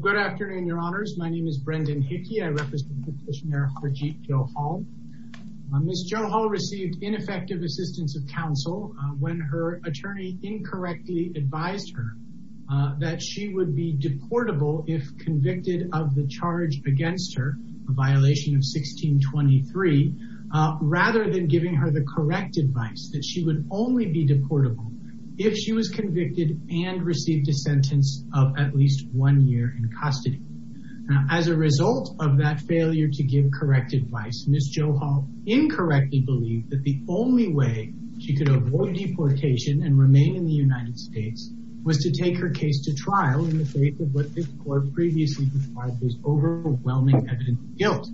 Good afternoon, your honors. My name is Brendan Hickey. I represent petitioner Harjit Johal. Ms. Johal received ineffective assistance of counsel when her attorney incorrectly advised her that she would be deportable if convicted of the charge against her, a violation of 1623, rather than giving her the correct advice that she would only be deportable if she was convicted and received a sentence of at least one year in custody. As a result of that failure to give correct advice, Ms. Johal incorrectly believed that the only way she could avoid deportation and remain in the United States was to take her case to trial in the face of what this court previously described as overwhelming evidence of guilt.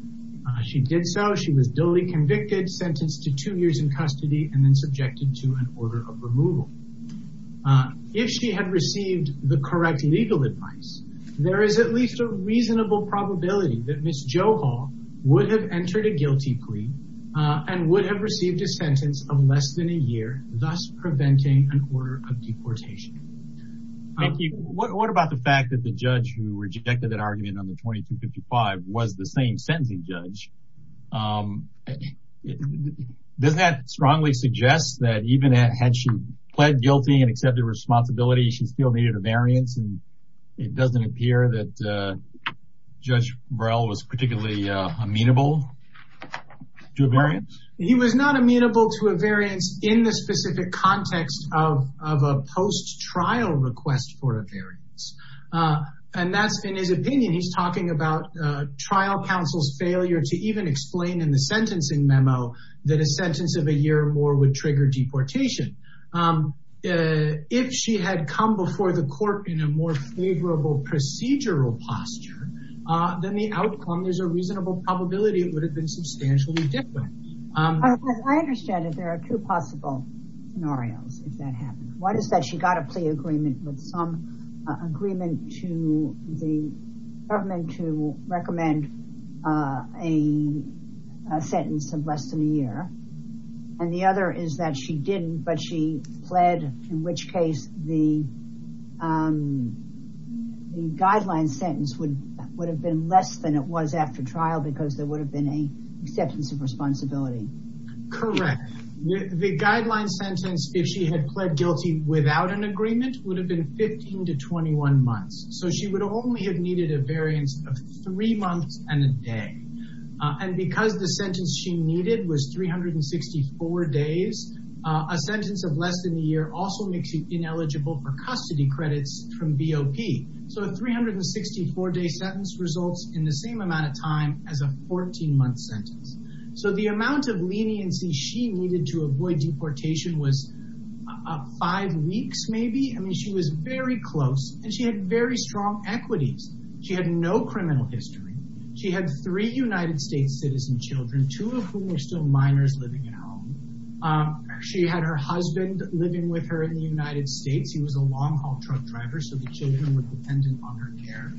She did so. She was duly convicted, sentenced to two years in custody, and then subjected to an order of removal. If she had received the correct legal advice, there is at least a reasonable probability that Ms. Johal would have entered a guilty plea and would have received a sentence of less than a year, thus preventing an order of deportation. Thank you. What about the fact that the judge who rejected that argument on the 2255 was the same sentencing judge? Does that strongly suggest that even had she pled guilty and accepted responsibility, she still needed a variance? And it doesn't appear that Judge Burrell was particularly amenable to a variance? He was not amenable to a variance in the specific context of a post-trial request for a variance. And that's in his opinion. He's talking about trial counsel's failure to even explain in the sentencing memo that a sentence of a year or more would trigger deportation. If she had come before the court in a more favorable procedural posture, then the outcome is a reasonable probability it would have been substantially different. I understand that there are two possible scenarios if that happened. One is that she got a plea agreement with some agreement to the government to recommend a sentence of less than a year. And the other is that she didn't, but she pled, in which case the guideline sentence would have been less than it was after trial because there would have been an acceptance of responsibility. Correct. The guideline sentence, if she had pled guilty without an agreement, would have been 15 to 21 months. So she would only have needed a variance of three months and a day. And because the sentence she needed was 364 days, a sentence of less than a year also makes you ineligible for custody credits from BOP. So a 364 sentence results in the same amount of time as a 14-month sentence. So the amount of leniency she needed to avoid deportation was five weeks maybe. I mean, she was very close and she had very strong equities. She had no criminal history. She had three United States citizen children, two of whom were still minors living at home. She had her husband living with her in the United States. He was a long-haul truck driver, so the children were dependent on her care.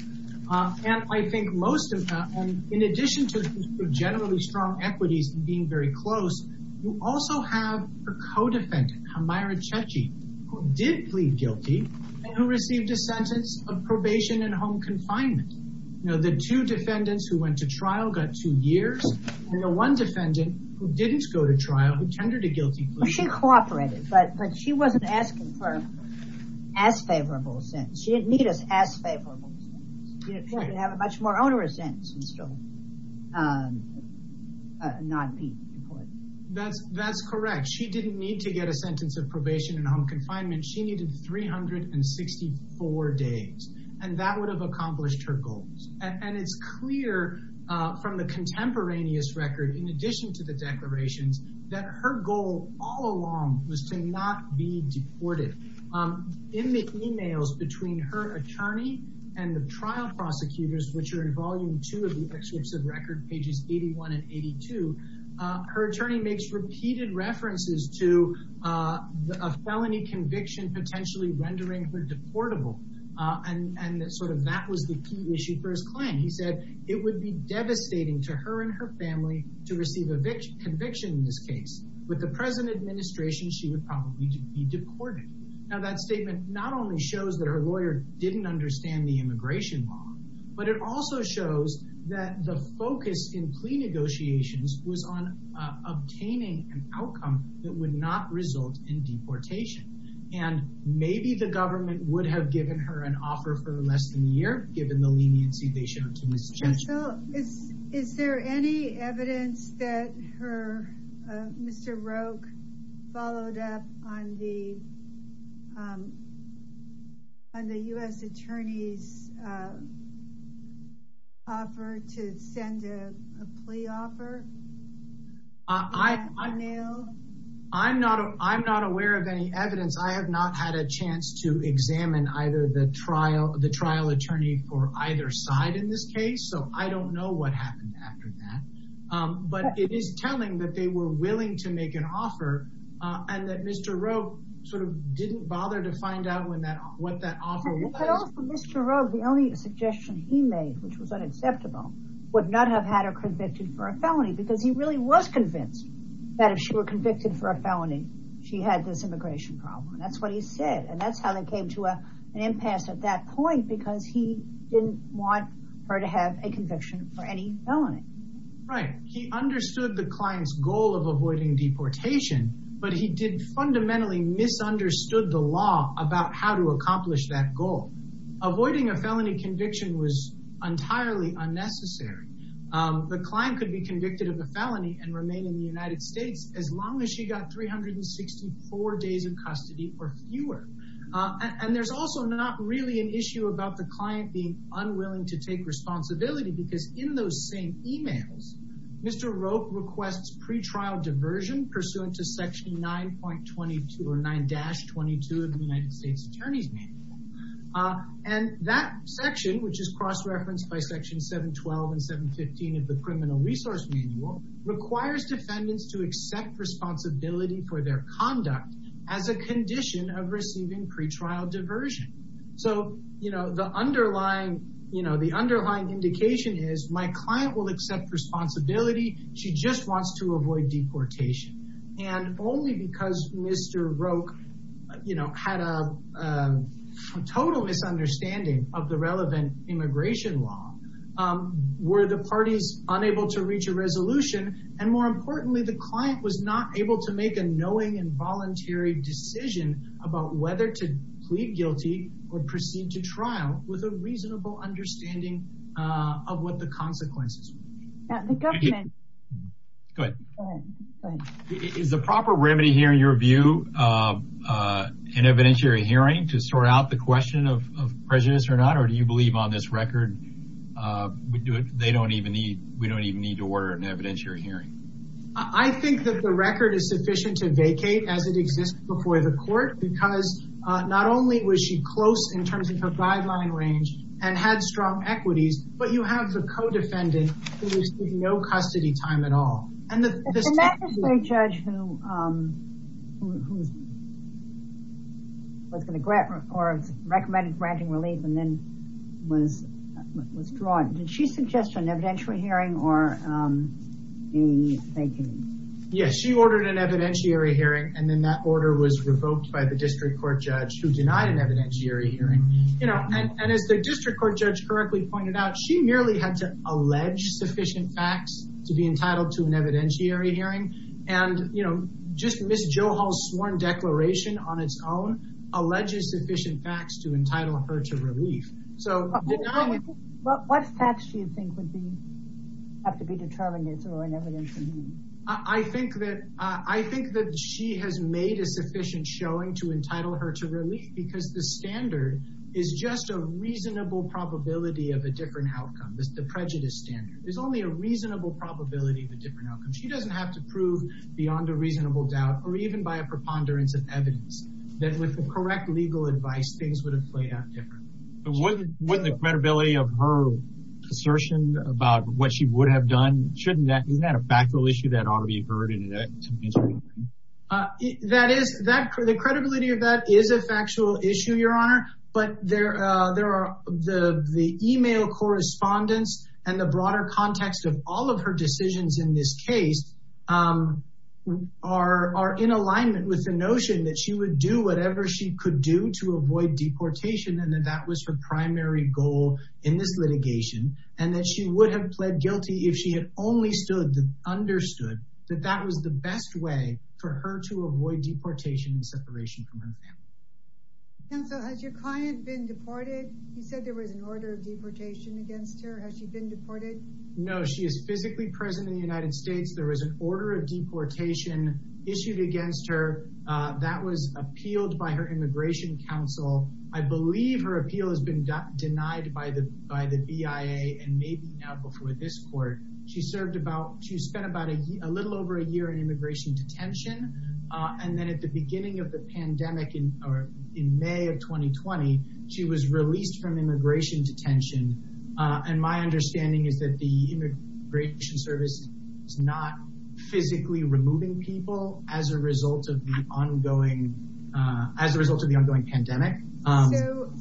And I think most of that, in addition to generally strong equities and being very close, you also have her co-defendant, Hamaira Chechi, who did plead guilty and who received a sentence of probation and home confinement. You know, the two defendants who went to trial got two years, and the one defendant who didn't go to trial, who tendered a guilty plea. She cooperated, but she wasn't asking for an as-favorable sentence. She didn't need an as-favorable sentence. She could have a much more onerous sentence and still not be deported. That's correct. She didn't need to get a sentence of probation and home confinement. She needed 364 days, and that would have accomplished her goals. And it's clear from the contemporaneous record, in addition to the declarations, that her goal all along was to not be deported. In the emails between her attorney and the trial prosecutors, which are in volume two of the Excerpts of Record, pages 81 and 82, her attorney makes repeated references to a felony conviction potentially rendering her deportable. And sort of that was the key issue he said, it would be devastating to her and her family to receive a conviction in this case. With the present administration, she would probably be deported. Now that statement not only shows that her lawyer didn't understand the immigration law, but it also shows that the focus in plea negotiations was on obtaining an outcome that would not result in deportation. And maybe the misjudgment. Is there any evidence that Mr. Roque followed up on the U.S. attorney's offer to send a plea offer? I'm not aware of any evidence. I have not had a chance to examine either the trial attorney for either side in this case. So I don't know what happened after that. But it is telling that they were willing to make an offer and that Mr. Roque sort of didn't bother to find out what that offer was. Mr. Roque, the only suggestion he made, which was unacceptable, would not have had her convicted for a felony because he really was convinced that if she were convicted for a felony, she had this immigration problem. And that's what he said. And that's how they came to an impasse at that point, because he didn't want her to have a conviction for any felony. Right. He understood the client's goal of avoiding deportation, but he did fundamentally misunderstood the law about how to accomplish that goal. Avoiding a felony conviction was entirely unnecessary. The client could be convicted of a felony and remain in the United States as long as she got 364 days in custody or fewer. And there's also not really an issue about the client being unwilling to take responsibility because in those same emails, Mr. Roque requests pretrial diversion pursuant to section 9.22 or 9-22 of the United States Attorney's Manual. And that section, which is cross-referenced by section 712 and 715 of the United States Attorney's Manual, requires defendants to accept responsibility for their conduct as a condition of receiving pretrial diversion. So, you know, the underlying, you know, the underlying indication is my client will accept responsibility. She just wants to avoid deportation. And only because Mr. Roque, you know, had a total misunderstanding of the relevant immigration law were the parties unable to reach a resolution. And more importantly, the client was not able to make a knowing and voluntary decision about whether to plead guilty or proceed to trial with a reasonable understanding of what the consequences would be. Now, the government... Go ahead. Is the proper remedy here, in your view, an evidentiary hearing to sort out the question of prejudice or not? Or do you believe on this record, they don't even need, we don't even need to order an evidentiary hearing? I think that the record is sufficient to vacate as it exists before the court, because not only was she close in terms of her guideline range and had strong equities, but you have the co-defendant who received no custody time at all. And the magistrate judge who was going to grant or recommended granting relief and then was withdrawn. Did she suggest an evidentiary hearing or a vacating? Yes, she ordered an evidentiary hearing. And then that order was revoked by the district court judge who denied an evidentiary hearing. You know, and as the district court judge correctly pointed out, she merely had to allege sufficient facts to be entitled to an evidentiary hearing. And, you know, just Ms. Johal's sworn declaration on its own alleges sufficient facts to entitle her to relief. So what facts do you think would be, have to be determinants or an evidentiary hearing? I think that, I think that she has made a sufficient showing to entitle her to relief because the standard is just a reasonable probability of a different outcome. The prejudice standard. There's only a reasonable probability of a different outcome. She doesn't have to prove beyond a reasonable doubt or even by a preponderance of evidence that with the correct legal advice, things would have played out differently. Wouldn't the credibility of her assertion about what she would have done, shouldn't that, isn't that a factual issue that ought to be heard? That is, the credibility of that is a factual issue, Your Honor. But there are, the email correspondence and the broader context of all of her decisions in this whatever she could do to avoid deportation and that that was her primary goal in this litigation and that she would have pled guilty if she had only understood that that was the best way for her to avoid deportation and separation from her family. Counsel, has your client been deported? You said there was an order of deportation against her. Has she been deported? No, she is physically present in the United States. There was an order of deportation issued against her. That was appealed by her immigration counsel. I believe her appeal has been denied by the BIA and maybe now before this court. She served about, she spent about a little over a year in immigration detention. And then at the beginning of the pandemic in May of 2020, she was released from immigration detention. And my understanding is that the immigration service is not physically removing people as a result of the ongoing, as a result of the ongoing pandemic.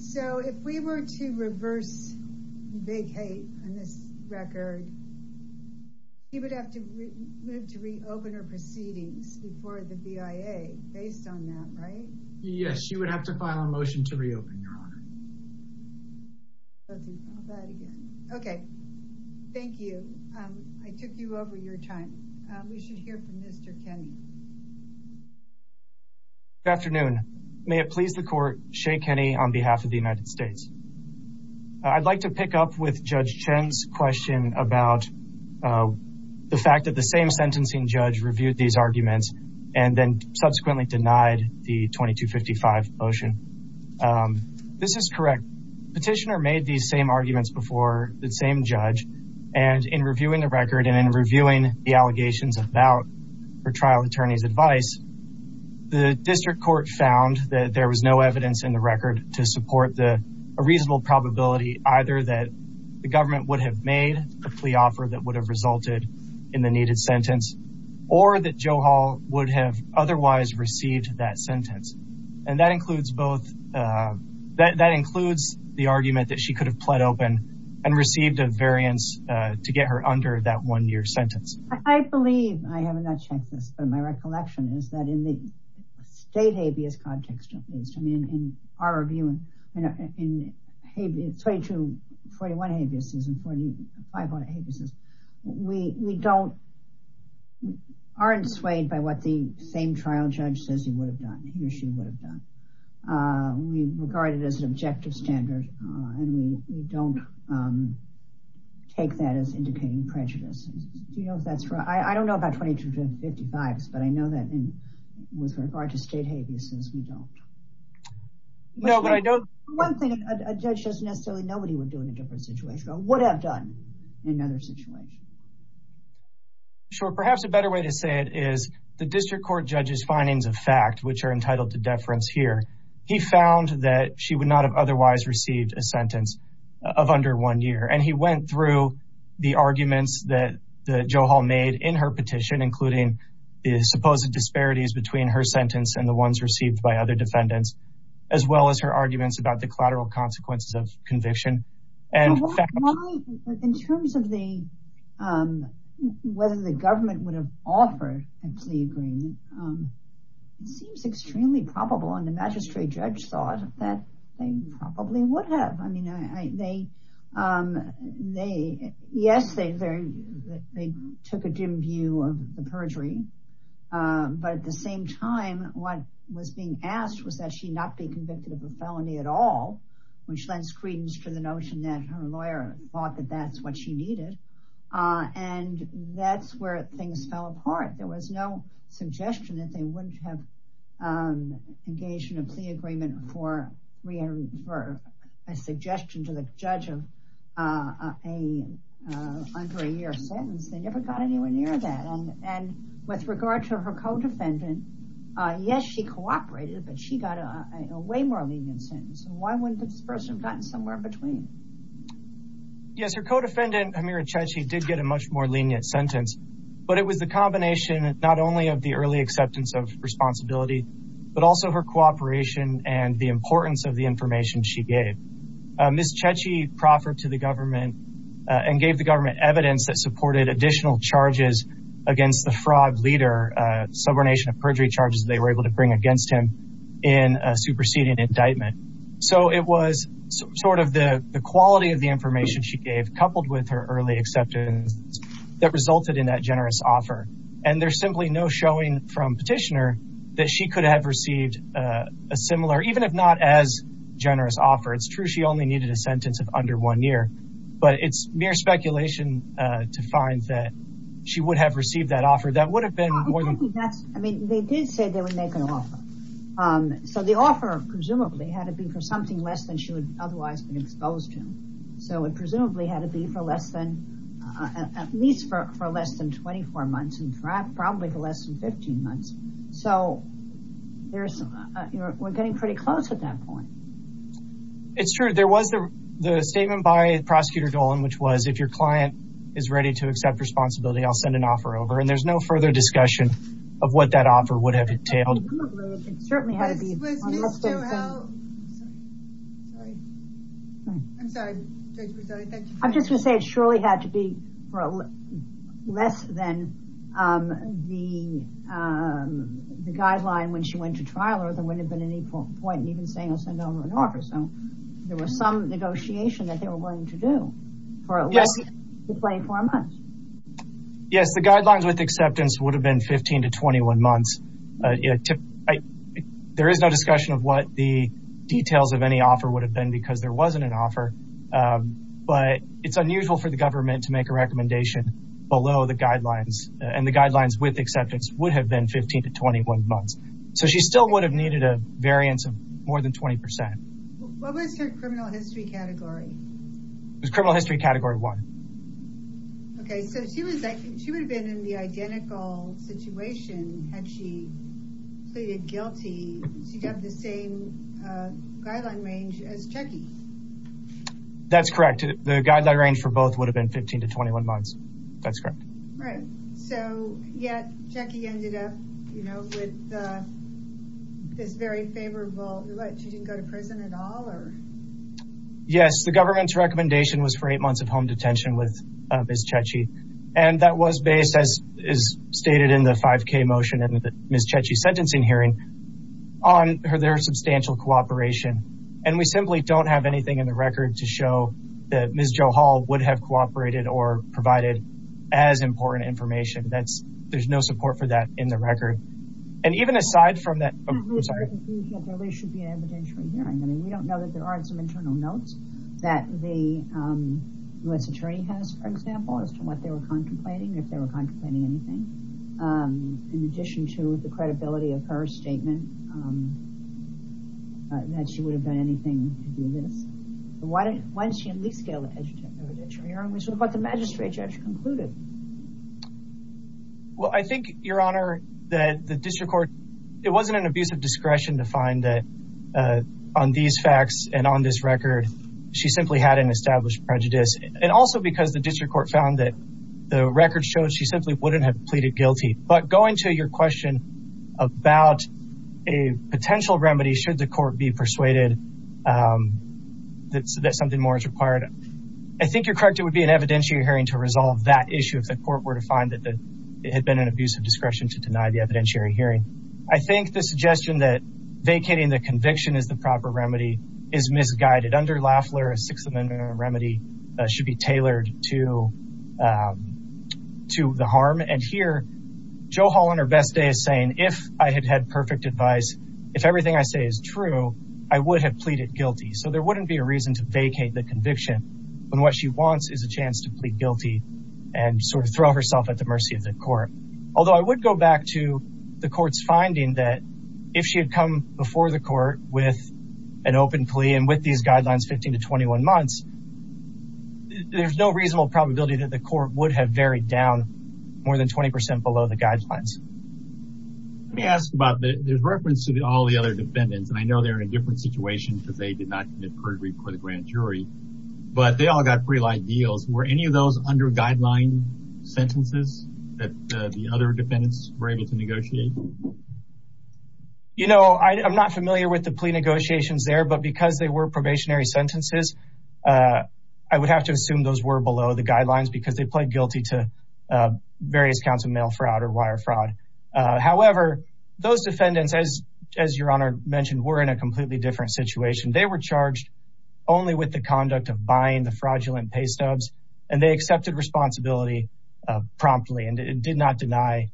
So if we were to reverse big hate on this record, he would have to move to reopen her proceedings before the BIA based on that, right? Yes, she would have to file a motion to reopen, Your Honor. Okay, thank you. I took you over your time. We should hear from Mr. Kenny. Good afternoon. May it please the court, Shea Kenny on behalf of the United States. I'd like to pick up with Judge Chen's question about the fact that the same sentencing judge reviewed these arguments and then subsequently denied the 2255 motion. This is correct. Petitioner made these same arguments before the same judge and in reviewing the record and in reviewing the allegations about her trial attorney's advice, the district court found that there was no evidence in the record to support a reasonable probability either that the government would have made a plea offer that would have resulted in the needed sentence or that Joe Hall would have otherwise received that sentence. And that includes both, that includes the argument that she could have pled open and received a variance to get her under that one year sentence. I believe, I have not checked this, but my recollection is that in the state habeas context, at least, I mean, in our view, in 4241 habeas and 4500 habeas, we don't, aren't swayed by what the same trial judge says he would have done, he or she would have done. We regard it as an objective standard and we don't take that as indicating prejudice. Do you know if that's right? I don't know about 2255s, but I know that in, with regard to state habeas, we don't. No, but I don't. One thing, a judge doesn't necessarily know what he would do in a different situation, or would have done in another situation. Sure, perhaps a better way to say it is the district court judge's findings of fact, which are entitled to deference here. He found that she would not have otherwise received a sentence of under one year. And he went through the arguments that the Joe Hall made in her petition, including the supposed disparities between her sentence and the ones received by other defendants, as well as her arguments about the collateral consequences of conviction. In terms of the, whether the government would have offered a plea agreement, it seems extremely probable. And the magistrate judge thought that they probably would have. I mean, they, yes, they took a dim view of the perjury. But at the same time, what was being asked was that she not be convicted of a felony at all, which lends credence to the notion that her lawyer thought that that's what she needed. And that's where things fell apart. There was no suggestion that they wouldn't have engaged in a plea agreement for a suggestion to the judge of a under a year sentence. They never got anywhere near that. And with regard to her co-defendant, yes, she cooperated, but she got a way more lenient sentence. And why wouldn't this person have gotten somewhere in between? Yes, her co-defendant, Hamira Chechi, did get a much more lenient sentence, but it was the combination, not only of the early acceptance of responsibility, but also her cooperation and the importance of the information she gave. Ms. Chechi proffered to the government and gave the government evidence that supported additional charges against the fraud leader, subornation of perjury charges they were able to bring against him in a superseding indictment. So it was sort of the quality of the information she gave coupled with her early acceptance that resulted in that generous offer. And there's simply no showing from Petitioner that she could have received a similar, even if not as generous offer. It's true she only needed a sentence of under one year, but it's mere speculation to find that she would have received that offer. That would have been more than that. I mean, they did say they would make an offer. So the offer, presumably, had to be for something less than she would otherwise been exposed to. So it presumably had to be for less than at least for less than 24 months and probably for less than 15 months. So there's, we're getting pretty close at that point. It's true. There was the statement by Prosecutor Dolan, which was, if your client is ready to accept responsibility, I'll send an offer over. And there's no further discussion of what that offer would have entailed. Presumably, it certainly had to be. Mr. Howell. I'm sorry. I'm just going to say it surely had to be for less than the guideline when she went to trial or there wouldn't have been any point in even saying I'll send over an offer. So there was some negotiation that they were going to do. For less than 24 months. Yes, the guidelines with acceptance would have been 15 to 21 months. There is no discussion of what the details of any offer would have been because there wasn't an offer, but it's unusual for the government to make a recommendation below the guidelines and the guidelines with acceptance would have been 15 to 21 months. So she still would have needed a variance of more than 20%. What was her criminal history category? It was criminal history category one. Okay. So she was, I think she would have been in the identical situation. Had she pleaded guilty, she'd have the same guideline range as Jackie. That's correct. The guideline range for both would have been 15 to 21 months. That's correct. Right. So yet Jackie ended up, you know, with this very favorable. What, she didn't go to prison at all or? Yes. The government's recommendation was for eight months of home detention with And that was based as is stated in the 5k motion and the Ms. Chechi sentencing hearing on her, their substantial cooperation. And we simply don't have anything in the record to show that Ms. Jo Hall would have cooperated or provided as important information. That's, there's no support for that in the record. And even aside from that, There really should be an evidentiary hearing. I mean, we don't know that there aren't some internal notes that the U.S. attorney has, for example, as to what they were contemplating, if they were contemplating anything. In addition to the credibility of her statement, that she would have done anything to do this. Why didn't she at least get an evidentiary hearing? Which is what the magistrate judge concluded. Well, I think your honor that the district court, it wasn't an abuse of discretion to find that on these facts and on this record, she simply had an established prejudice. And also because the district court found that the record shows she simply wouldn't have pleaded guilty. But going to your question about a potential remedy, should the court be persuaded that something more is required? I think you're correct. It would be an evidentiary hearing to resolve that issue. If the court were to find that it had been an abuse of discretion to deny the evidentiary hearing. I think the suggestion that vacating the conviction is the proper remedy is misguided. Under Lafleur, a sixth amendment remedy should be tailored to the harm. And here, Jo Hall on her best day is saying, if I had had perfect advice, if everything I say is true, I would have pleaded guilty. So there wouldn't be a reason to vacate the conviction when what she wants is a chance to plead guilty and sort of throw herself at the mercy of the court. Although I would go back to the court's finding that if she had come before the court with an open plea and with these guidelines, 15 to 21 months, there's no reasonable probability that the court would have varied down more than 20% below the guidelines. Let me ask about, there's reference to all the other defendants, and I know they're in a different situation because they did not commit perjury before the grand jury, but they all got pretty light deals. Were any of those under guideline sentences that the other defendants were able to negotiate? You know, I'm not familiar with the plea negotiations there, but because they were probationary sentences, I would have to assume those were below the guidelines because they pled guilty to various counts of mail fraud or wire fraud. However, those defendants, as your honor mentioned, were in a completely different situation. They were charged only with the conduct of buying the fraudulent pay stubs, and they accepted responsibility promptly and did not deny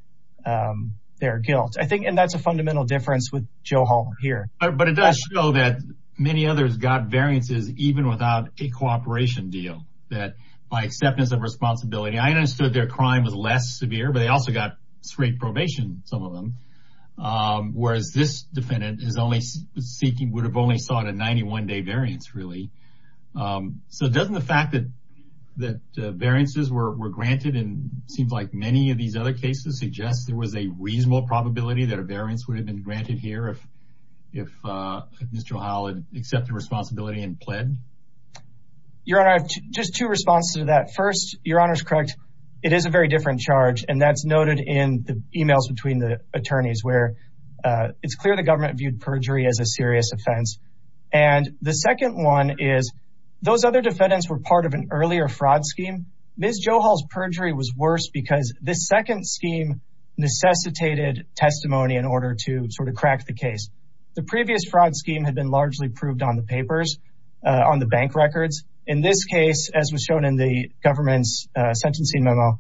their guilt. And that's a fundamental difference with Joe Hall here. But it does show that many others got variances even without a cooperation deal, that by acceptance of responsibility, I understood their crime was less severe, but they also got straight probation, some of them, whereas this defendant is only seeking, would have only sought a 91-day variance, really. So doesn't the fact that variances were granted and seems like many of these other cases suggest there was a reasonable probability that a variance would have been granted here if Mr. Hall had accepted responsibility and pled? Your honor, I have just two responses to that. First, your honor's correct. It is a very different charge, and that's noted in the emails between the attorneys where it's clear the government viewed perjury as a serious offense. And the second one is those other defendants were part of an earlier fraud scheme. Ms. Joe Hall's perjury was worse because this second scheme necessitated testimony in order to sort of crack the case. The previous fraud scheme had been largely proved on the papers, on the bank records. In this case, as was shown in the government's sentencing memo,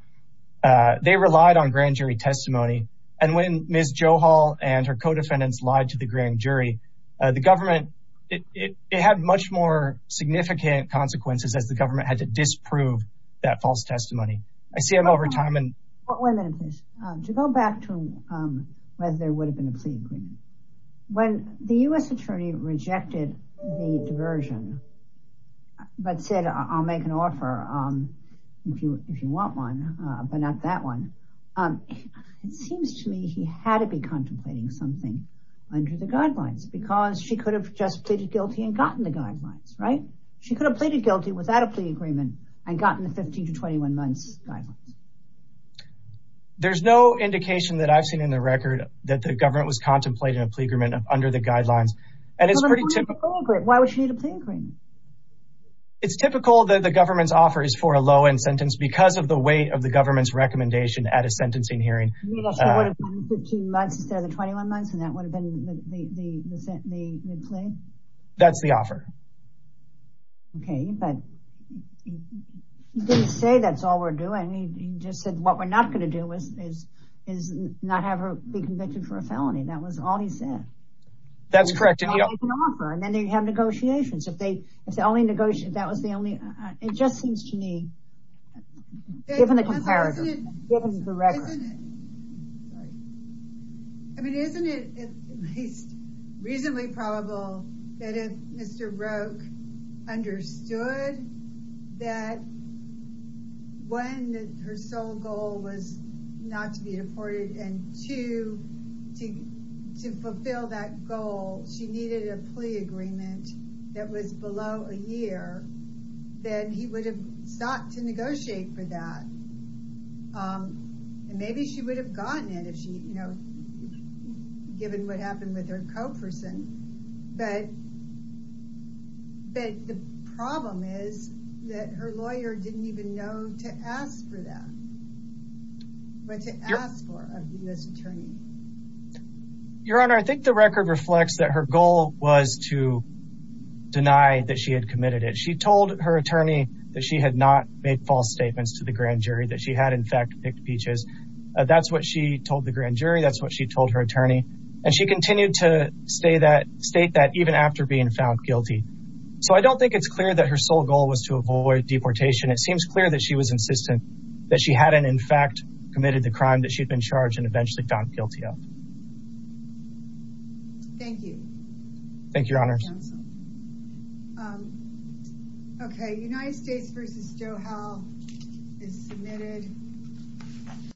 they relied on grand jury testimony. And when Ms. Joe Hall and her co-defendants lied to the grand jury, the government, it had much more significant consequences as the government had to disprove that false testimony. I see them over time and- Wait a minute, please. To go back to whether there would have been a plea agreement, when the U.S. attorney rejected the diversion but said, I'll make an offer if you want one, but not that one, it seems to me he had to be contemplating something under the guidelines because she could have just pleaded guilty and gotten the guidelines, right? She could have pleaded guilty without a plea agreement and gotten the 15 to 21 months guidelines. There's no indication that I've seen in the record that the government was contemplating a plea agreement under the guidelines. And it's pretty typical- Why would she need a plea agreement? It's typical that the government's offer is for a low-end sentence because of the weight of the government's recommendation at a sentencing hearing. It would have been 15 months instead of the 21 months and that would have been the plea? That's the offer. Okay, but he didn't say that's all we're doing. He just said what we're not going to do is not have her be convicted for a felony. That was all he said. That's correct. And he offered an offer and then they have negotiations. If they, if the only negotiation, that was the only, it just seems to me, given the comparison, given the record. Isn't it, I mean, isn't it at least reasonably probable that if Mr. Roque understood that one, her sole goal was not to be deported and two, to fulfill that goal, she needed a plea agreement that was below a year, then he would have sought to negotiate for that. And maybe she would have gotten it if she, you know, given what happened with her co-person. But the problem is that her lawyer didn't even know to ask for that, what to ask for of this attorney. Your Honor, I think the record reflects that her goal was to deny that she had committed it. She told her attorney that she had not made false statements to the grand jury that she had in fact picked peaches. That's what she told the grand jury. That's what she told her attorney. And she continued to state that even after being found guilty. So I don't think it's clear that her sole goal was to avoid deportation. It seems clear that she was insistent that she hadn't in fact committed the crime that she'd been charged and eventually found guilty of. Thank you. Thank you, Your Honors. Okay, United States versus Doha is submitted.